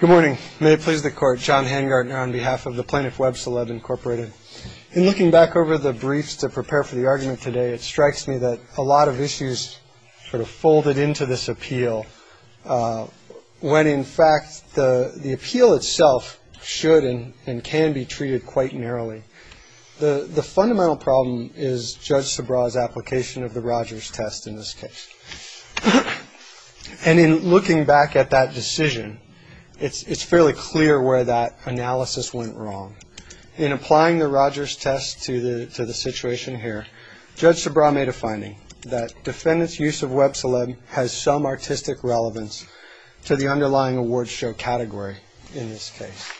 Good morning. May it please the Court. John Hangartner on behalf of the plaintiff, Webceleb, Inc. In looking back over the briefs to prepare for the argument today, it strikes me that a lot of issues sort of folded into this appeal, when in fact the appeal itself should and can be treated quite narrowly. The fundamental problem is Judge Sobraw's application of the Rogers test in this case. And in looking back at that decision, it's fairly clear where that analysis went wrong. In applying the Rogers test to the situation here, Judge Sobraw made a finding that defendants' use of Webceleb has some artistic relevance to the underlying award show category in this case.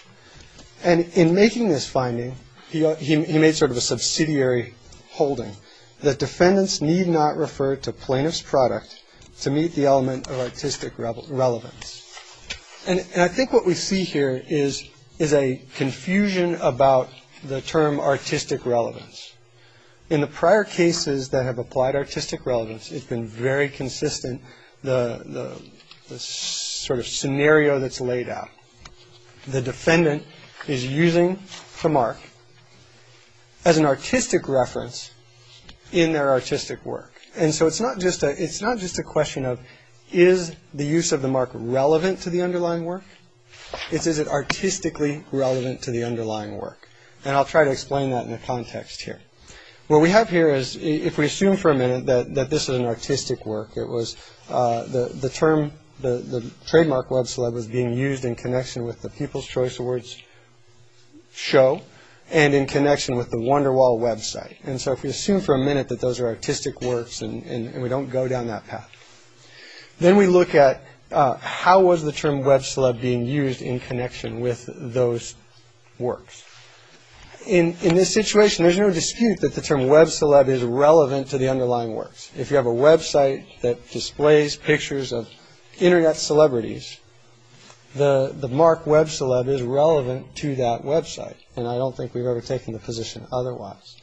And in making this finding, he made sort of a subsidiary holding that defendants need not refer to plaintiff's product to meet the element of artistic relevance. And I think what we see here is a confusion about the term artistic relevance. In the prior cases that have applied artistic relevance, it's been very consistent, the sort of scenario that's laid out. The defendant is using the mark as an artistic reference in their artistic work. And so it's not just a it's not just a question of is the use of the mark relevant to the underlying work. Is it artistically relevant to the underlying work? And I'll try to explain that in the context here. What we have here is if we assume for a minute that this is an artistic work, it was the term the trademark Webceleb was being used in connection with the People's Choice Awards show and in connection with the Wonderwall website. And so if we assume for a minute that those are artistic works and we don't go down that path, then we look at how was the term Webceleb being used in connection with those works. In this situation, there's no dispute that the term Webceleb is relevant to the underlying works. If you have a Web site that displays pictures of Internet celebrities, the mark Webceleb is relevant to that Web site. And I don't think we've ever taken the position otherwise.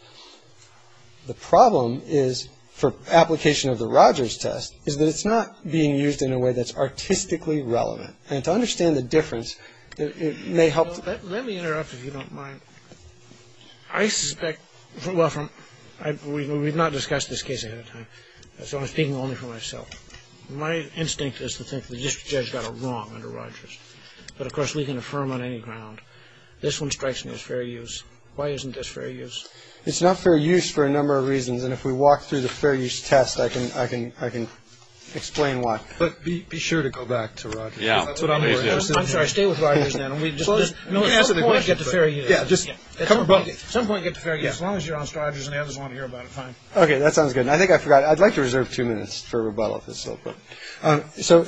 The problem is for application of the Rogers test is that it's not being used in a way that's artistically relevant. And to understand the difference, it may help. Let me interrupt if you don't mind. I suspect we've not discussed this case. So I'm speaking only for myself. My instinct is to think the district judge got it wrong under Rogers. But of course, we can affirm on any ground. This one strikes me as fair use. Why isn't this fair use? It's not fair use for a number of reasons. And if we walk through the fair use test, I can I can I can explain why. But be sure to go back to. Yeah, that's what I mean. I'm sorry. Stay with. And we just want to get the fair. Yeah. Just come about some point. Get as long as you're on charges and the others want to hear about it. Fine. OK. That sounds good. I think I forgot. I'd like to reserve two minutes for rebuttal. So.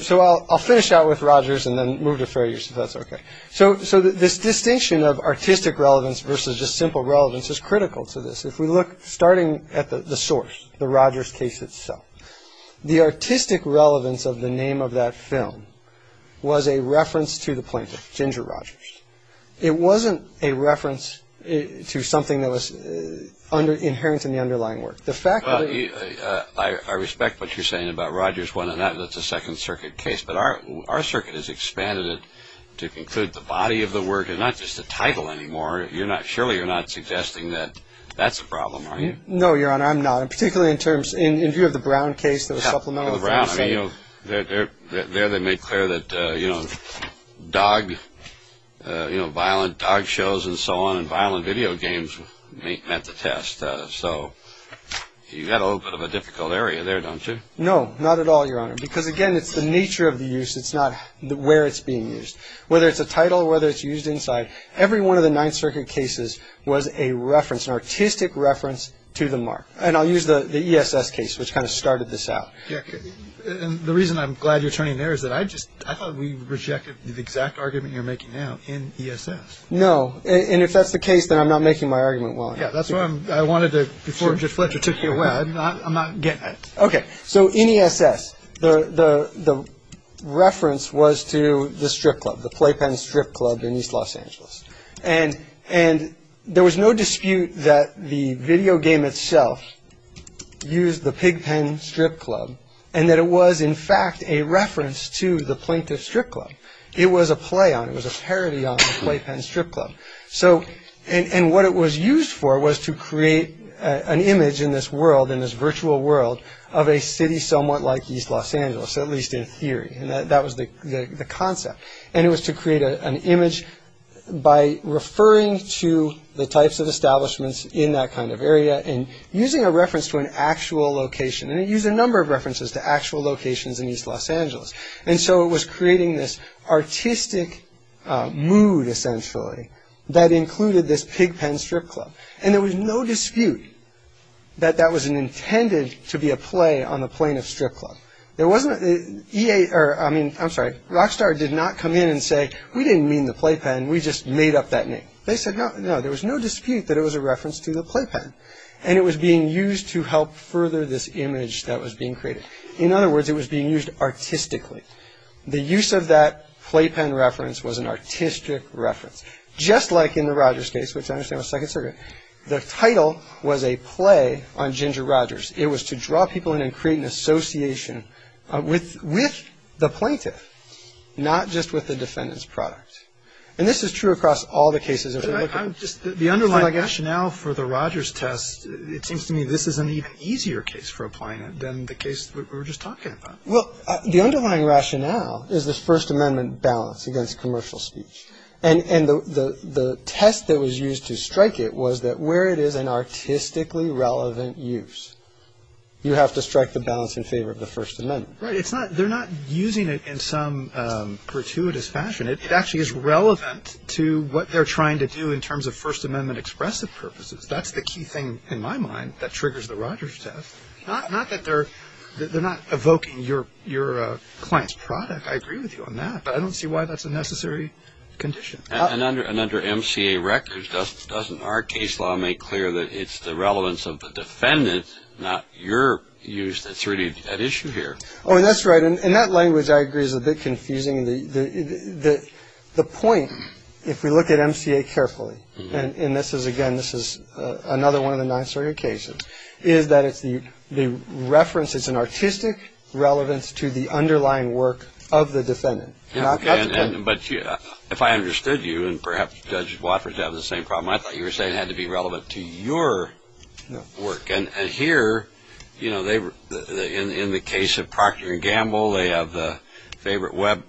So I'll finish out with Rogers and then move to fair use. That's OK. So. So this distinction of artistic relevance versus just simple relevance is critical to this. If we look, starting at the source, the Rogers case itself, the artistic relevance of the name of that film was a reference to the plaintiff, Ginger Rogers. It wasn't a reference to something that was under inherent in the underlying work. The fact that I respect what you're saying about Rogers one and that's a Second Circuit case. But our our circuit has expanded it to include the body of the work and not just the title anymore. You're not surely you're not suggesting that that's a problem, are you? No, your honor. I'm not. And particularly in terms in view of the Brown case, the supplemental around, you know, that there they made clear that, you know, dog, you know, violent dog shows and so on and violent video games at the test. So you got a little bit of a difficult area there, don't you? No, not at all, your honor. Because, again, it's the nature of the use. It's not where it's being used, whether it's a title, whether it's used inside every one of the Ninth Circuit cases was a reference, an artistic reference to the mark. And I'll use the ESS case, which kind of started this out. And the reason I'm glad you're turning there is that I just I thought we rejected the exact argument you're making now in ESS. No. And if that's the case, then I'm not making my argument. Well, yeah, that's what I wanted to do before you took me away. I'm not getting it. OK. So in ESS, the reference was to the strip club, the playpen strip club in East Los Angeles. And and there was no dispute that the video game itself used the pigpen strip club and that it was, in fact, a reference to the plaintiff's strip club. It was a play on it was a parody of playpen strip club. So and what it was used for was to create an image in this world, in this virtual world of a city somewhat like East Los Angeles, at least in theory. And that was the concept. And it was to create an image by referring to the types of establishments in that kind of area and using a reference to an actual location. And it used a number of references to actual locations in East Los Angeles. And so it was creating this artistic mood, essentially, that included this pigpen strip club. And there was no dispute that that was an intended to be a play on the plaintiff's strip club. There wasn't a year. I mean, I'm sorry. Rockstar did not come in and say we didn't mean the playpen. We just made up that name. They said, no, no, there was no dispute that it was a reference to the playpen. And it was being used to help further this image that was being created. In other words, it was being used artistically. The use of that playpen reference was an artistic reference, just like in the Rogers case, which I understand was second circuit. The title was a play on Ginger Rogers. It was to draw people in and create an association with with the plaintiff, not just with the defendant's product. And this is true across all the cases. I'm just the underlying rationale for the Rogers test. It seems to me this is an even easier case for applying it than the case we were just talking about. Well, the underlying rationale is this First Amendment balance against commercial speech. And the test that was used to strike it was that where it is an artistically relevant use, you have to strike the balance in favor of the First Amendment. It's not they're not using it in some gratuitous fashion. It actually is relevant to what they're trying to do in terms of First Amendment expressive purposes. That's the key thing in my mind that triggers the Rogers test. Not that they're not evoking your client's product. I agree with you on that, but I don't see why that's a necessary condition. And under MCA records, doesn't our case law make clear that it's the relevance of the defendant, not your use, that's really at issue here? Oh, that's right. And that language, I agree, is a bit confusing. The point, if we look at MCA carefully, and this is, again, this is another one of the nine-story occasions, is that the reference is an artistic relevance to the underlying work of the defendant. But if I understood you, and perhaps Judge Watford would have the same problem, I thought you were saying it had to be relevant to your work. And here, in the case of Procter & Gamble, they have the favorite web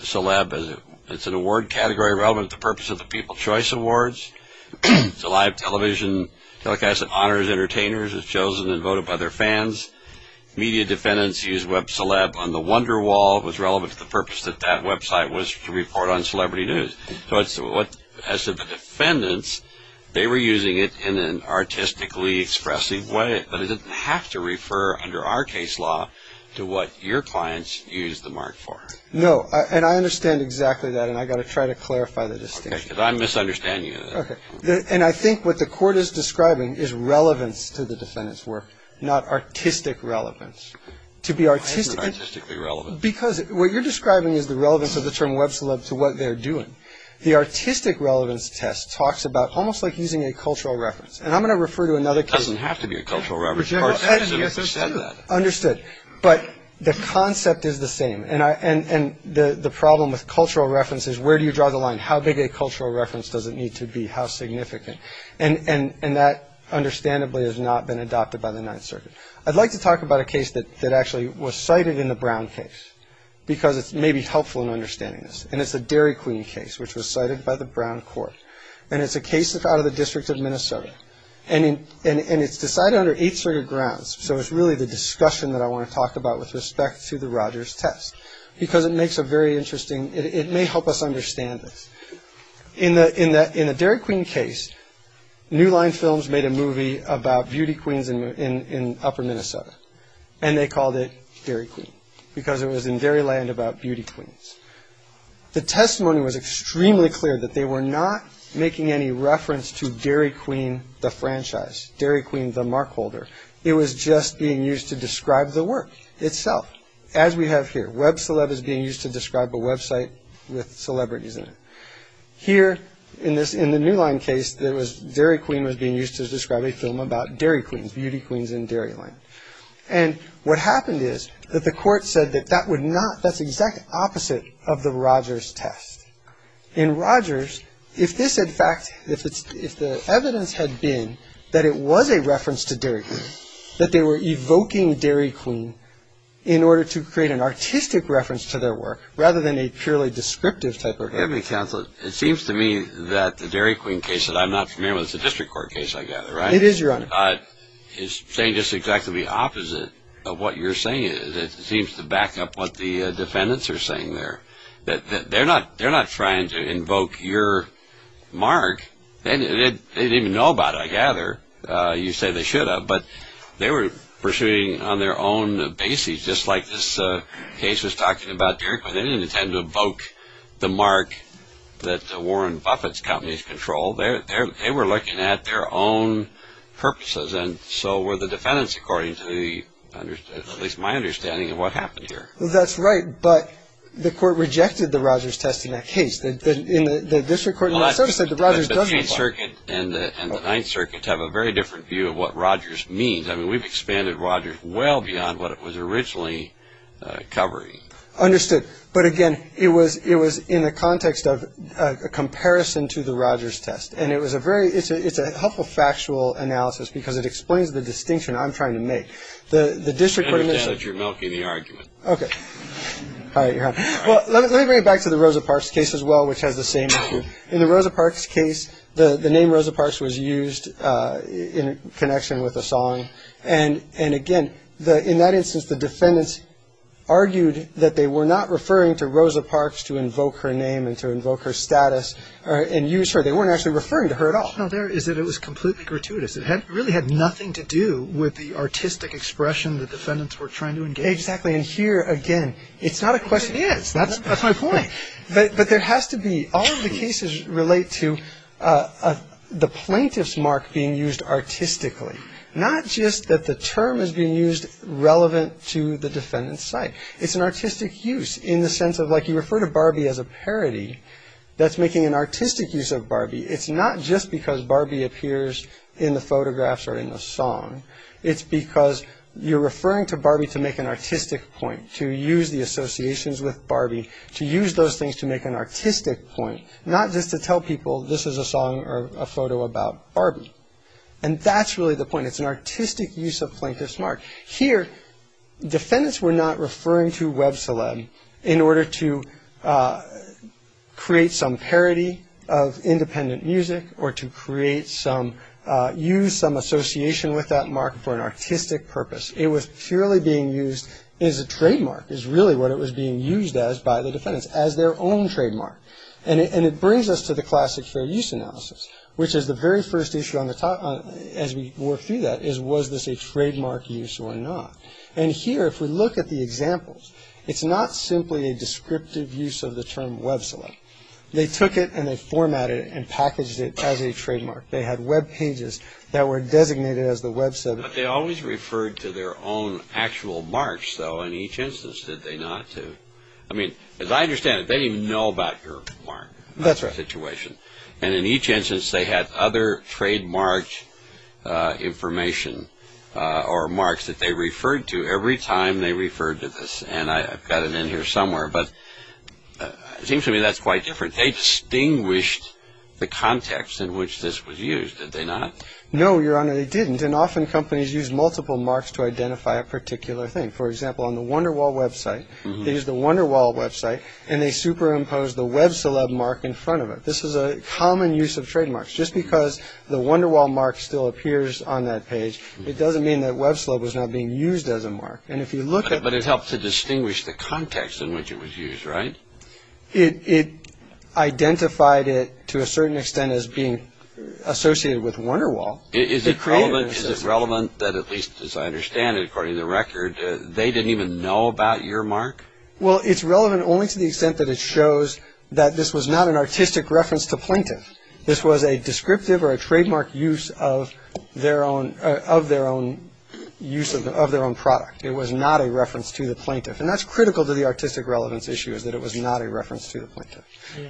celeb. It's an award category relevant to the purpose of the People's Choice Awards. It's a live television, like I said, honors entertainers. It's chosen and voted by their fans. Media defendants use web celeb on the Wonderwall. It was relevant to the purpose that that website was to report on celebrity news. As to the defendants, they were using it in an artistically expressive way, but it doesn't have to refer, under our case law, to what your clients use the mark for. No, and I understand exactly that, and I've got to try to clarify the distinction. Okay, because I'm misunderstanding you. And I think what the Court is describing is relevance to the defendant's work, not artistic relevance. Why is it artistically relevant? Because what you're describing is the relevance of the term web celeb to what they're doing. The artistic relevance test talks about almost like using a cultural reference. And I'm going to refer to another case. It doesn't have to be a cultural reference. I understand that. Understood. But the concept is the same. And the problem with cultural reference is where do you draw the line? How big a cultural reference does it need to be? How significant? And that, understandably, has not been adopted by the Ninth Circuit. I'd like to talk about a case that actually was cited in the Brown case because it may be helpful in understanding this. And it's the Dairy Queen case, which was cited by the Brown Court. And it's a case out of the District of Minnesota. And it's decided under eight circuit grounds, so it's really the discussion that I want to talk about with respect to the Rogers test because it makes a very interesting – it may help us understand this. In the Dairy Queen case, New Line Films made a movie about beauty queens in upper Minnesota. And they called it Dairy Queen because it was in dairy land about beauty queens. The testimony was extremely clear that they were not making any reference to Dairy Queen the franchise, Dairy Queen the mark holder. It was just being used to describe the work itself, as we have here. Web Celeb is being used to describe a website with celebrities in it. Here, in the New Line case, Dairy Queen was being used to describe a film about dairy queens, beauty queens in dairy land. And what happened is that the court said that that's the exact opposite of the Rogers test. In Rogers, if the evidence had been that it was a reference to Dairy Queen, that they were evoking Dairy Queen in order to create an artistic reference to their work rather than a purely descriptive type of evidence. It seems to me that the Dairy Queen case that I'm not familiar with, it's a district court case I gather, right? It is, Your Honor. It's saying just exactly the opposite of what you're saying. It seems to back up what the defendants are saying there. They're not trying to invoke your mark. They didn't even know about it, I gather. You say they should have, but they were pursuing on their own basis, just like this case was talking about Dairy Queen. They didn't intend to evoke the mark that Warren Buffett's companies control. They were looking at their own purposes, and so were the defendants according to at least my understanding of what happened here. That's right, but the court rejected the Rogers test in that case. In the district court, so to say, the Rogers doesn't work. The Eighth Circuit and the Ninth Circuit have a very different view of what Rogers means. I mean, we've expanded Rogers well beyond what it was originally covering. Understood. But again, it was in the context of a comparison to the Rogers test, and it's a helpful factual analysis because it explains the distinction I'm trying to make. It's better now that you're milking the argument. Okay. All right, Your Honor. Well, let me bring it back to the Rosa Parks case as well, which has the same issue. In the Rosa Parks case, the name Rosa Parks was used in connection with a song, and again, in that instance, the defendants argued that they were not referring to Rosa Parks to invoke her name and to invoke her status and use her. They weren't actually referring to her at all. No, there it is. It was completely gratuitous. It really had nothing to do with the artistic expression the defendants were trying to engage. Exactly, and here, again, it's not a question. It is. That's my point. But there has to be. All of the cases relate to the plaintiff's mark being used artistically, not just that the term is being used relevant to the defendant's site. It's an artistic use in the sense of, like, you refer to Barbie as a parody. That's making an artistic use of Barbie. It's not just because Barbie appears in the photographs or in the song. It's because you're referring to Barbie to make an artistic point, to use the associations with Barbie, to use those things to make an artistic point, not just to tell people this is a song or a photo about Barbie. And that's really the point. It's an artistic use of plaintiff's mark. Here, defendants were not referring to Web Celeb in order to create some parody of independent music or to use some association with that mark for an artistic purpose. It was purely being used as a trademark, is really what it was being used as by the defendants, as their own trademark. And it brings us to the classic fair use analysis, which is the very first issue as we work through that is was this a trademark use or not. And here, if we look at the examples, it's not simply a descriptive use of the term Web Celeb. They took it and they formatted it and packaged it as a trademark. They had Web pages that were designated as the Web Celeb. But they always referred to their own actual marks, though, in each instance, did they not? I mean, as I understand it, they didn't even know about your mark situation. That's right. And in each instance, they had other trademark information or marks that they referred to every time they referred to this. And I've got it in here somewhere, but it seems to me that's quite different. They distinguished the context in which this was used, did they not? No, Your Honor, they didn't. And often companies use multiple marks to identify a particular thing. For example, on the Wonderwall website, they used the Wonderwall website and they superimposed the Web Celeb mark in front of it. This is a common use of trademarks. Just because the Wonderwall mark still appears on that page, it doesn't mean that Web Celeb was not being used as a mark. But it helped to distinguish the context in which it was used, right? It identified it to a certain extent as being associated with Wonderwall. Is it relevant that, at least as I understand it, according to the record, they didn't even know about your mark? Well, it's relevant only to the extent that it shows that this was not an artistic reference to Plinkton. This was a descriptive or a trademark use of their own product. It was not a reference to the plaintiff. And that's critical to the artistic relevance issue, is that it was not a reference to the plaintiff.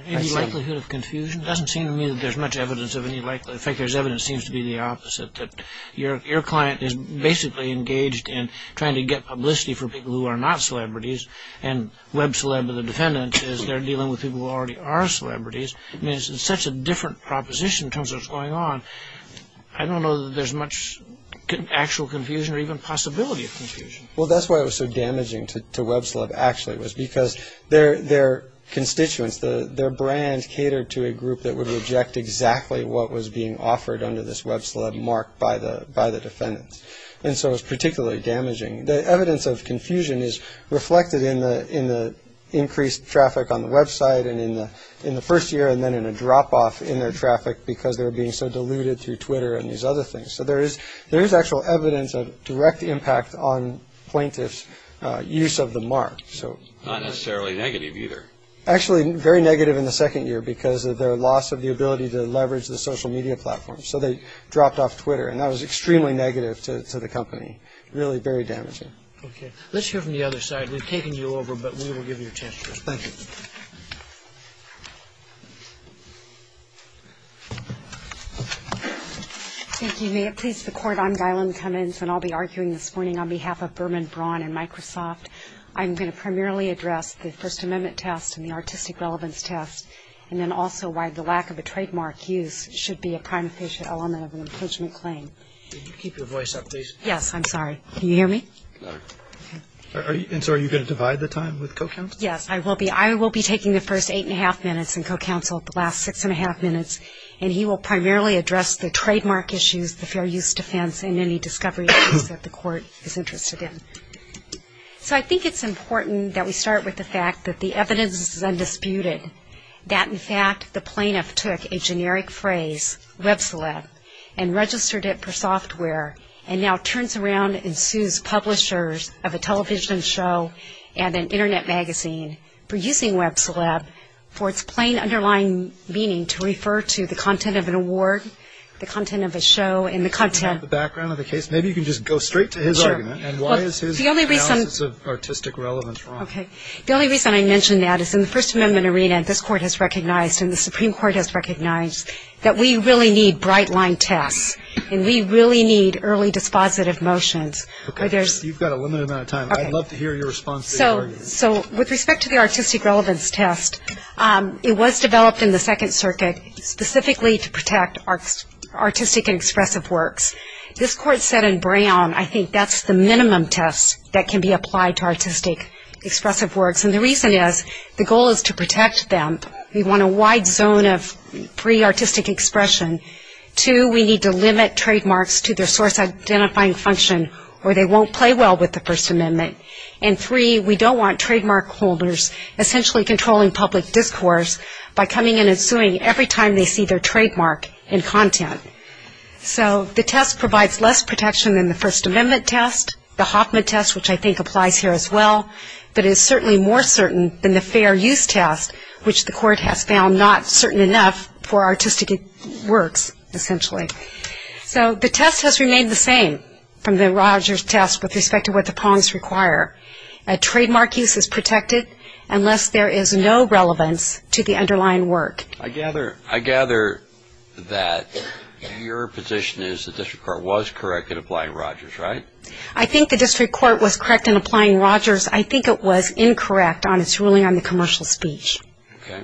Any likelihood of confusion? It doesn't seem to me that there's much evidence of any likelihood. In fact, there's evidence that seems to be the opposite, that your client is basically engaged in trying to get publicity for people who are not celebrities, and Web Celeb or the defendant is they're dealing with people who already are celebrities. I mean, it's such a different proposition in terms of what's going on. I don't know that there's much actual confusion or even possibility of confusion. Well, that's why it was so damaging to Web Celeb, actually, was because their constituents, their brand catered to a group that would reject exactly what was being offered under this Web Celeb mark by the defendant. And so it was particularly damaging. The evidence of confusion is reflected in the increased traffic on the website and in the first year and then in a drop-off in their traffic because they were being so diluted through Twitter and these other things. So there is actual evidence of direct impact on plaintiff's use of the mark. Not necessarily negative either. Actually, very negative in the second year because of their loss of the ability to leverage the social media platform. So they dropped off Twitter, and that was extremely negative to the company, really very damaging. Okay. Let's hear from the other side. We've taken you over, but we will give you a chance to respond. Thank you. Thank you. May it please the Court, I'm Gailen Cummins, and I'll be arguing this morning on behalf of Berman Braun and Microsoft. I'm going to primarily address the First Amendment test and the artistic relevance test and then also why the lack of a trademark use should be a prime official element of an imprisonment claim. Can you keep your voice up, please? Yes, I'm sorry. Can you hear me? And so are you going to divide the time with co-counsel? Yes, I will be. I will be taking the first eight-and-a-half minutes and co-counsel the last six-and-a-half minutes, and he will primarily address the trademark issues, the fair use defense, and any discovery issues that the Court is interested in. So I think it's important that we start with the fact that the evidence is undisputed, that in fact the plaintiff took a generic phrase, web celeb, and registered it for software, and now turns around and sues publishers of a television show and an Internet magazine for using web celeb for its plain underlying meaning to refer to the content of an award, the content of a show, and the content. Can you talk about the background of the case? Maybe you can just go straight to his argument, and why is his analysis of artistic relevance wrong? Okay. The only reason I mention that is in the First Amendment arena, this Court has recognized and the Supreme Court has recognized that we really need bright-line tests, and we really need early dispositive motions. Okay. You've got a limited amount of time. I'd love to hear your response to the argument. So with respect to the artistic relevance test, it was developed in the Second Circuit specifically to protect artistic and expressive works. This Court said in Brown, I think that's the minimum test that can be applied to artistic expressive works, and the reason is the goal is to protect them. We want a wide zone of pre-artistic expression. Two, we need to limit trademarks to their source-identifying function, or they won't play well with the First Amendment. And three, we don't want trademark holders essentially controlling public discourse by coming in and suing every time they see their trademark in content. So the test provides less protection than the First Amendment test, the Hoffman test, which I think applies here as well, but is certainly more certain than the fair use test, which the Court has found not certain enough for artistic works essentially. So the test has remained the same from the Rogers test with respect to what the prongs require. Trademark use is protected unless there is no relevance to the underlying work. I gather that your position is the District Court was correct in applying Rogers, right? I think the District Court was correct in applying Rogers. I think it was incorrect on its ruling on the commercial speech. Okay.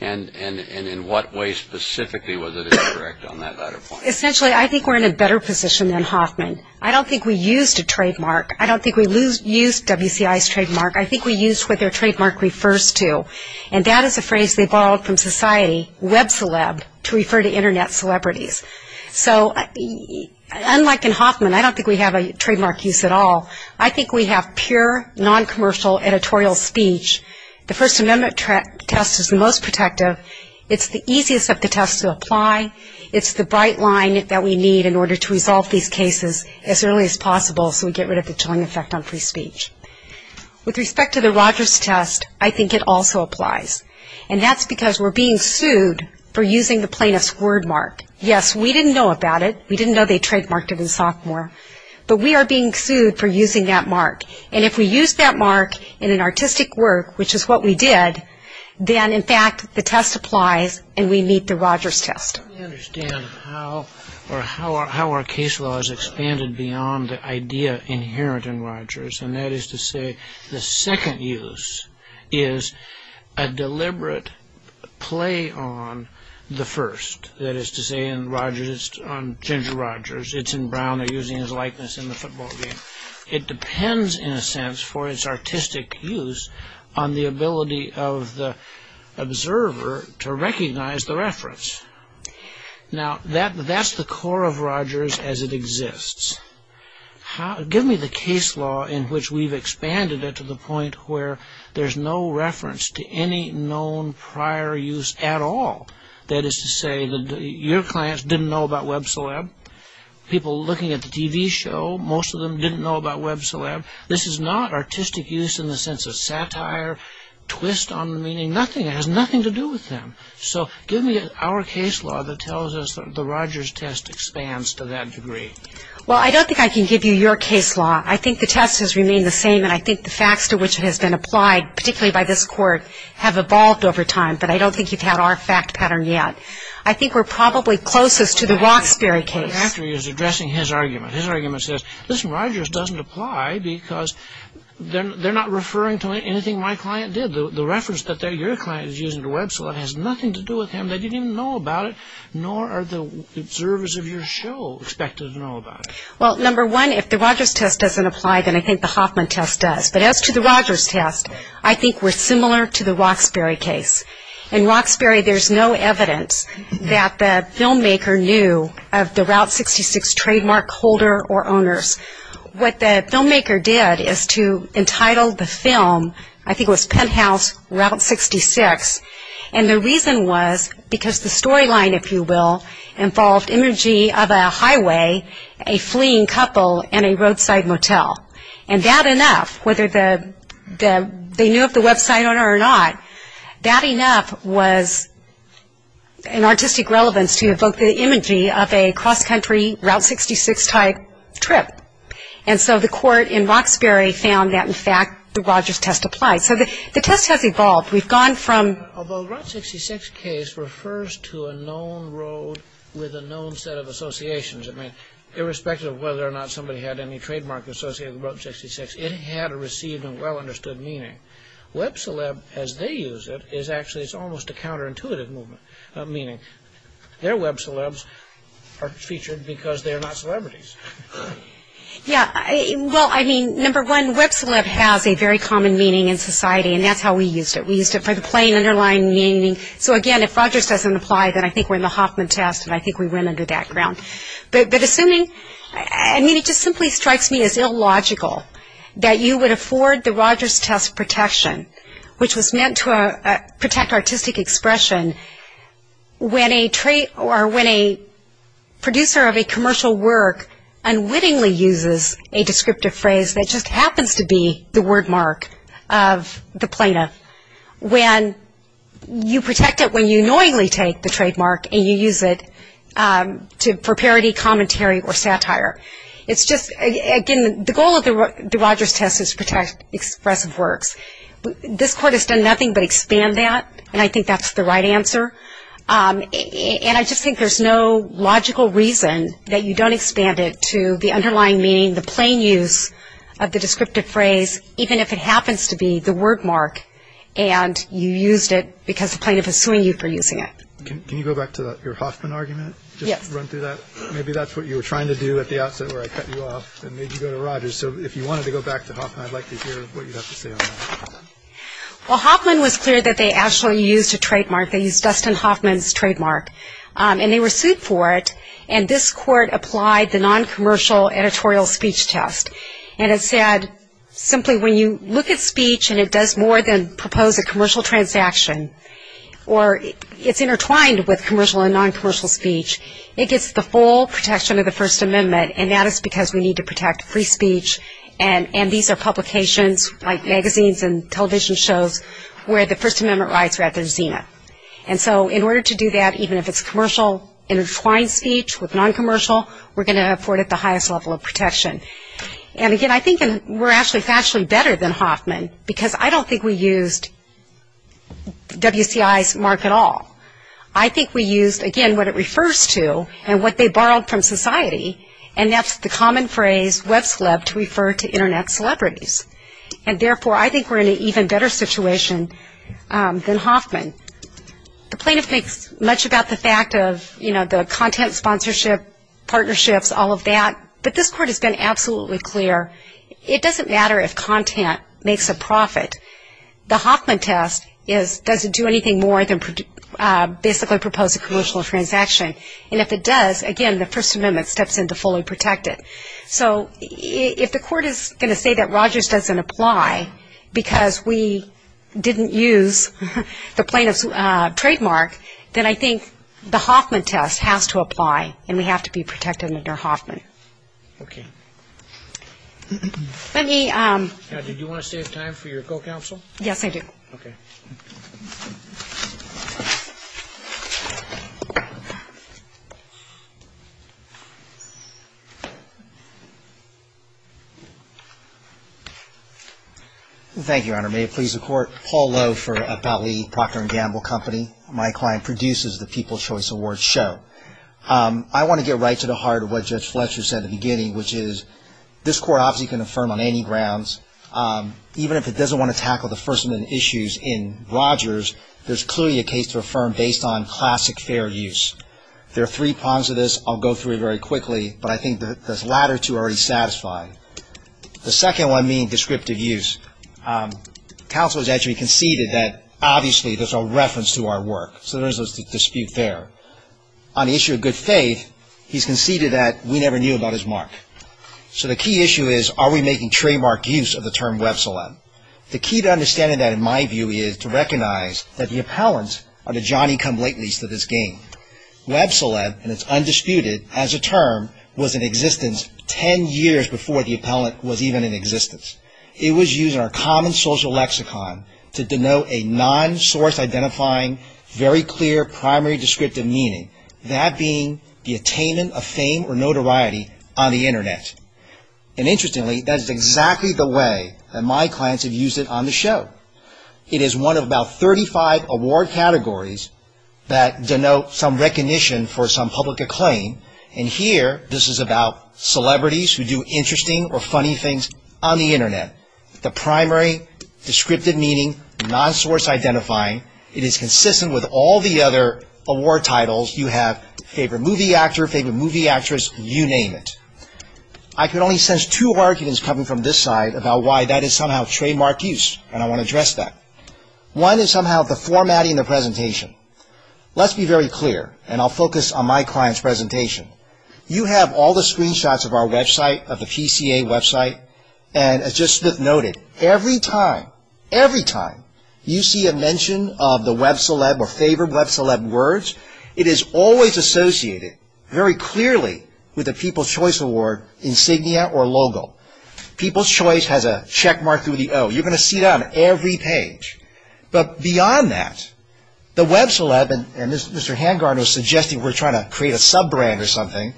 And in what way specifically was it incorrect on that latter point? Essentially, I think we're in a better position than Hoffman. I don't think we used a trademark. I don't think we used WCI's trademark. I think we used what their trademark refers to, and that is a phrase they borrowed from society, web celeb, to refer to Internet celebrities. So unlike in Hoffman, I don't think we have a trademark use at all. I think we have pure noncommercial editorial speech. The First Amendment test is the most protective. It's the easiest of the tests to apply. It's the bright line that we need in order to resolve these cases as early as possible so we get rid of the chilling effect on free speech. With respect to the Rogers test, I think it also applies, and that's because we're being sued for using the plaintiff's wordmark. Yes, we didn't know about it. We didn't know they trademarked it in sophomore. But we are being sued for using that mark, and if we use that mark in an artistic work, which is what we did, then in fact the test applies and we meet the Rogers test. I don't understand how our case law has expanded beyond the idea inherent in Rogers, and that is to say the second use is a deliberate play on the first. That is to say in Rogers, it's on Ginger Rogers. It's in Brown. They're using his likeness in the football game. It depends, in a sense, for its artistic use on the ability of the observer to recognize the reference. Now, that's the core of Rogers as it exists. Give me the case law in which we've expanded it to the point where there's no reference to any known prior use at all. That is to say your clients didn't know about Web Celeb. People looking at the TV show, most of them didn't know about Web Celeb. This is not artistic use in the sense of satire, twist on the meaning, nothing. It has nothing to do with them. So give me our case law that tells us the Rogers test expands to that degree. Well, I don't think I can give you your case law. I think the test has remained the same, and I think the facts to which it has been applied, particularly by this court, have evolved over time, but I don't think you've had our fact pattern yet. I think we're probably closest to the Roxbury case. What I'm after is addressing his argument. His argument says, listen, Rogers doesn't apply because they're not referring to anything my client did. The reference that your client is using to Web Celeb has nothing to do with him. They didn't even know about it, nor are the observers of your show expected to know about it. Well, number one, if the Rogers test doesn't apply, then I think the Hoffman test does. But as to the Rogers test, I think we're similar to the Roxbury case. In Roxbury, there's no evidence that the filmmaker knew of the Route 66 trademark holder or owners. What the filmmaker did is to entitle the film, I think it was Penthouse Route 66, and the reason was because the storyline, if you will, involved imagery of a highway, a fleeing couple, and a roadside motel. And that enough, whether they knew of the website owner or not, that enough was an artistic relevance to evoke the imagery of a cross-country Route 66-type trip. And so the court in Roxbury found that, in fact, the Rogers test applied. So the test has evolved. We've gone from – Although the Route 66 case refers to a known road with a known set of associations, I mean, irrespective of whether or not somebody had any trademark associated with Route 66, it had a received and well-understood meaning. Web celeb, as they use it, is actually – it's almost a counterintuitive meaning. Their web celebs are featured because they're not celebrities. Yeah, well, I mean, number one, web celeb has a very common meaning in society, and that's how we used it. We used it for the plain, underlying meaning. So again, if Rogers doesn't apply, then I think we're in the Hoffman test, and I think we went under that ground. But assuming – I mean, it just simply strikes me as illogical that you would afford the Rogers test protection, which was meant to protect artistic expression when a producer of a commercial work unwittingly uses a descriptive phrase that just happens to be the word mark of the plaintiff, when you protect it when you annoyingly take the trademark and you use it for parody, commentary, or satire. It's just – again, the goal of the Rogers test is to protect expressive works. This Court has done nothing but expand that, and I think that's the right answer. And I just think there's no logical reason that you don't expand it to the underlying meaning, the plain use of the descriptive phrase, even if it happens to be the word mark, and you used it because the plaintiff is suing you for using it. Can you go back to your Hoffman argument? Yes. Just run through that. Maybe that's what you were trying to do at the outset where I cut you off and made you go to Rogers. So if you wanted to go back to Hoffman, I'd like to hear what you have to say on that. Well, Hoffman was clear that they actually used a trademark. They used Dustin Hoffman's trademark. And they were sued for it, and this Court applied the noncommercial editorial speech test. And it said simply when you look at speech and it does more than propose a commercial transaction or it's intertwined with commercial and noncommercial speech, it gets the full protection of the First Amendment, and that is because we need to protect free speech, and these are publications like magazines and television shows where the First Amendment rights are at their zenith. And so in order to do that, even if it's commercial intertwined speech with noncommercial, we're going to afford it the highest level of protection. And, again, I think we're actually better than Hoffman because I don't think we used WCI's mark at all. I think we used, again, what it refers to and what they borrowed from society, and that's the common phrase web celeb to refer to Internet celebrities. And, therefore, I think we're in an even better situation than Hoffman. The plaintiff makes much about the fact of, you know, the content sponsorship, partnerships, all of that, but this Court has been absolutely clear it doesn't matter if content makes a profit. The Hoffman test is does it do anything more than basically propose a commercial transaction, and if it does, again, the First Amendment steps in to fully protect it. So if the Court is going to say that Rogers doesn't apply because we didn't use the plaintiff's trademark, then I think the Hoffman test has to apply and we have to be protected under Hoffman. Okay. Did you want to save time for your co-counsel? Yes, I do. Okay. Thank you, Your Honor. May it please the Court. Paul Lowe for Batley Procter & Gamble Company. My client produces the People's Choice Awards show. I want to get right to the heart of what Judge Fletcher said at the beginning, which is this Court obviously can affirm on any grounds, even if it doesn't want to tackle the First Amendment issues in Rogers, there's clearly a case to affirm based on classic fair use. There are three prongs to this. I'll go through it very quickly, but I think the latter two are already satisfied. The second one being descriptive use. Counsel has actually conceded that obviously there's a reference to our work, so there is a dispute there. On the issue of good faith, he's conceded that we never knew about his mark. So the key issue is are we making trademark use of the term Web-Celeb? The key to understanding that, in my view, is to recognize that the appellants are the Johnny-come-latelies to this game. Web-Celeb, and it's undisputed as a term, was in existence ten years before the appellant was even in existence. It was used in our common social lexicon to denote a non-source identifying, very clear primary descriptive meaning, that being the attainment of fame or notoriety on the Internet. And interestingly, that's exactly the way that my clients have used it on the show. It is one of about 35 award categories that denote some recognition for some public acclaim, and here this is about celebrities who do interesting or funny things on the Internet. The primary descriptive meaning, non-source identifying, it is consistent with all the other award titles. You have favorite movie actor, favorite movie actress, you name it. I can only sense two arguments coming from this side about why that is somehow trademark use, and I want to address that. One is somehow the formatting of the presentation. Let's be very clear, and I'll focus on my client's presentation. You have all the screenshots of our website, of the PCA website, and as just Smith noted, every time, every time, you see a mention of the Web-Celeb or favorite Web-Celeb words, it is always associated very clearly with the People's Choice Award insignia or logo. People's Choice has a checkmark through the O. You're going to see that on every page, but beyond that, the Web-Celeb, and Mr. Hangar was suggesting we're trying to create a sub-brand or something,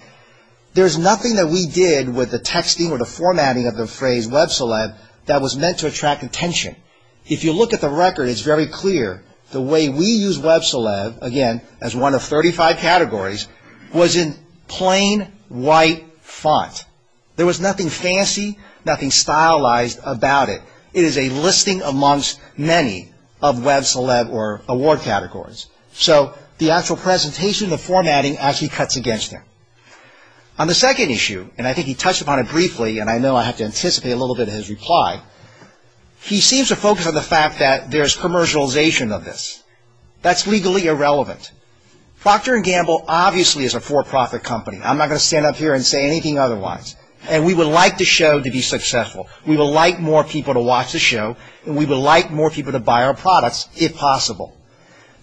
there's nothing that we did with the texting or the formatting of the phrase Web-Celeb that was meant to attract attention. If you look at the record, it's very clear the way we use Web-Celeb, again, as one of 35 categories, was in plain white font. There was nothing fancy, nothing stylized about it. It is a listing amongst many of Web-Celeb or award categories. So the actual presentation, the formatting actually cuts against him. On the second issue, and I think he touched upon it briefly, and I know I have to anticipate a little bit of his reply, he seems to focus on the fact that there's commercialization of this. That's legally irrelevant. Procter & Gamble obviously is a for-profit company. I'm not going to stand up here and say anything otherwise. And we would like the show to be successful. We would like more people to watch the show, and we would like more people to buy our products, if possible.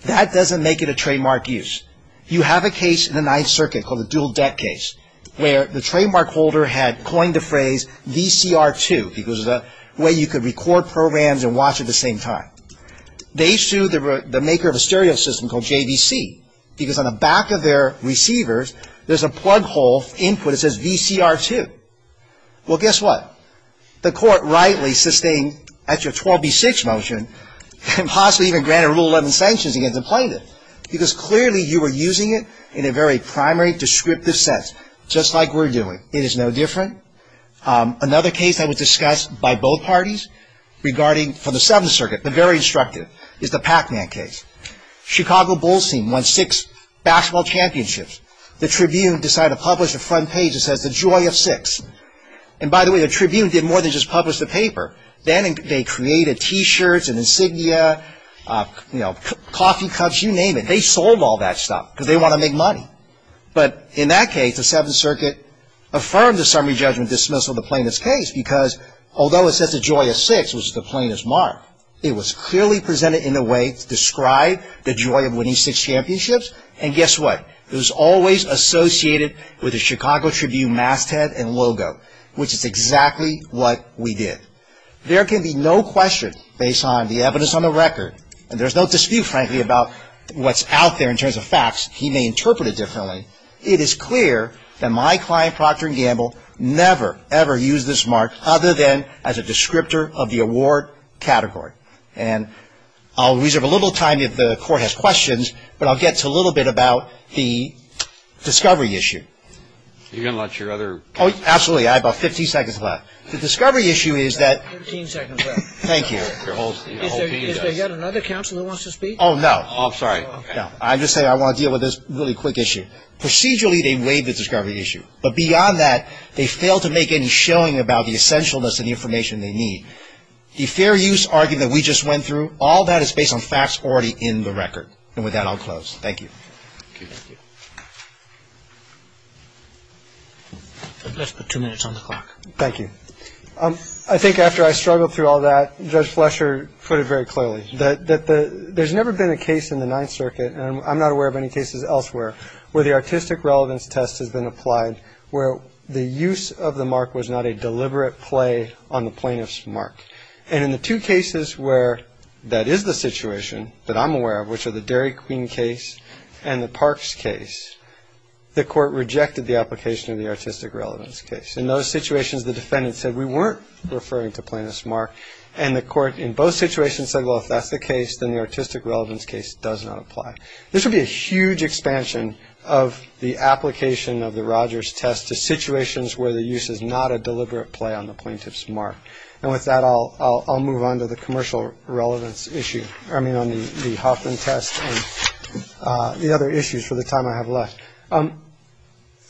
That doesn't make it a trademark use. You have a case in the Ninth Circuit called the Dual Debt Case, where the trademark holder had coined the phrase VCR2, because it was a way you could record programs and watch at the same time. They sued the maker of a stereo system called JVC, because on the back of their receivers there's a plug hole input that says VCR2. Well, guess what? The court rightly sustained a 12B6 motion and possibly even granted Rule 11 sanctions against the plaintiff, because clearly you were using it in a very primary, descriptive sense, just like we're doing. It is no different. Another case that was discussed by both parties regarding the Seventh Circuit, the very instructive, is the Pac-Man case. Chicago Bulls team won six basketball championships. The Tribune decided to publish the front page that says, The Joy of Six. And by the way, the Tribune did more than just publish the paper. Then they created T-shirts and insignia, you know, coffee cups, you name it. They sold all that stuff, because they want to make money. But in that case, the Seventh Circuit affirmed the summary judgment dismissal of the plaintiff's case, because although it says The Joy of Six, which is the plaintiff's mark, it was clearly presented in a way to describe the joy of winning six championships. And guess what? It was always associated with the Chicago Tribune masthead and logo, which is exactly what we did. There can be no question, based on the evidence on the record, and there's no dispute, frankly, about what's out there in terms of facts. He may interpret it differently. It is clear that my client, Procter & Gamble, never, ever used this mark other than as a descriptor of the award category. And I'll reserve a little time if the Court has questions, but I'll get to a little bit about the discovery issue. You're going to let your other counsel speak? Oh, absolutely. I have about 15 seconds left. The discovery issue is that. 15 seconds left. Thank you. Is there yet another counsel who wants to speak? Oh, no. Oh, I'm sorry. No, I'm just saying I want to deal with this really quick issue. Procedurally, they waived the discovery issue. But beyond that, they failed to make any showing about the essentialness of the information they need. The fair use argument we just went through, all that is based on facts already in the record. And with that, I'll close. Thank you. Thank you. Let's put two minutes on the clock. Thank you. I think after I struggled through all that, Judge Fletcher put it very clearly, that there's never been a case in the Ninth Circuit, and I'm not aware of any cases elsewhere, where the artistic relevance test has been applied, where the use of the mark was not a deliberate play on the plaintiff's mark. And in the two cases where that is the situation that I'm aware of, which are the Dairy Queen case and the Parks case, the court rejected the application of the artistic relevance case. In those situations, the defendant said, we weren't referring to plaintiff's mark, and the court in both situations said, well, if that's the case, then the artistic relevance case does not apply. This would be a huge expansion of the application of the Rogers test to situations where the use is not a deliberate play on the plaintiff's mark. And with that, I'll move on to the commercial relevance issue. I mean, on the Hoffman test and the other issues for the time I have left.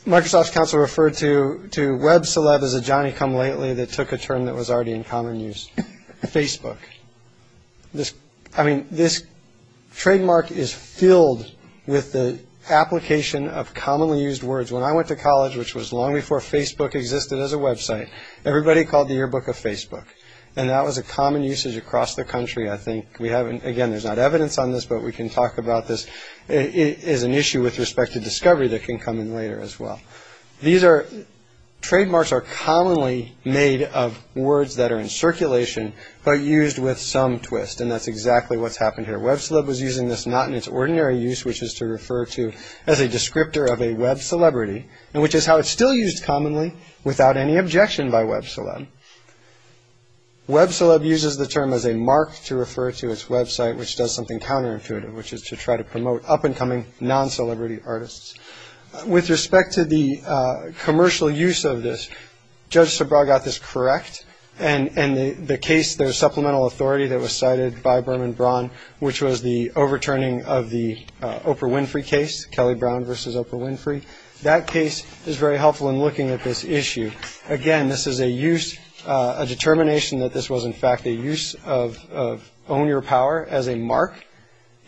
Microsoft's counsel referred to Web Celeb as a Johnny-come-lately that took a term that was already in common use. Facebook. I mean, this trademark is filled with the application of commonly used words. When I went to college, which was long before Facebook existed as a website, everybody called the yearbook a Facebook. And that was a common usage across the country, I think. Again, there's not evidence on this, but we can talk about this. It is an issue with respect to discovery that can come in later as well. Trademarks are commonly made of words that are in circulation, but used with some twist. And that's exactly what's happened here. Web Celeb was using this not in its ordinary use, which is to refer to as a descriptor of a web celebrity, which is how it's still used commonly without any objection by Web Celeb. Web Celeb uses the term as a mark to refer to its website, which does something counterintuitive, which is to try to promote up-and-coming non-celebrity artists. With respect to the commercial use of this, Judge Sobral got this correct. And the case, the supplemental authority that was cited by Berman Braun, which was the overturning of the Oprah Winfrey case, Kelly Brown versus Oprah Winfrey, that case is very helpful in looking at this issue. Again, this is a use, a determination that this was, in fact, a use of own your power as a mark.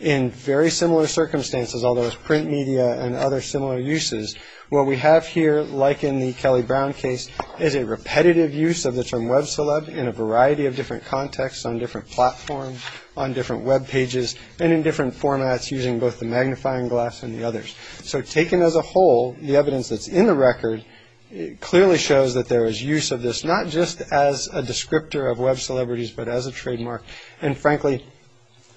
In very similar circumstances, although it's print media and other similar uses, what we have here, like in the Kelly Brown case, is a repetitive use of the term Web Celeb in a variety of different contexts, on different platforms, on different Web pages, and in different formats using both the magnifying glass and the others. So taken as a whole, the evidence that's in the record clearly shows that there is use of this, not just as a descriptor of Web celebrities, but as a trademark. And frankly,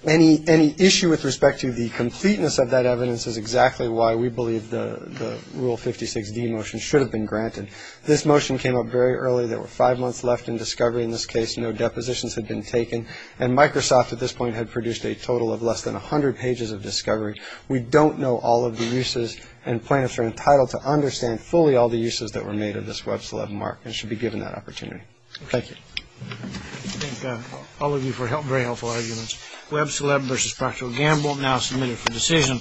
any issue with respect to the completeness of that evidence is exactly why we believe the Rule 56D motion should have been granted. This motion came up very early. There were five months left in discovery in this case. No depositions had been taken. And Microsoft, at this point, had produced a total of less than 100 pages of discovery. We don't know all of the uses, and plaintiffs are entitled to understand fully all the uses that were made of this Web Celeb mark and should be given that opportunity. Thank you. I thank all of you for very helpful arguments. Web Celeb v. Procter & Gamble now submitted for decision.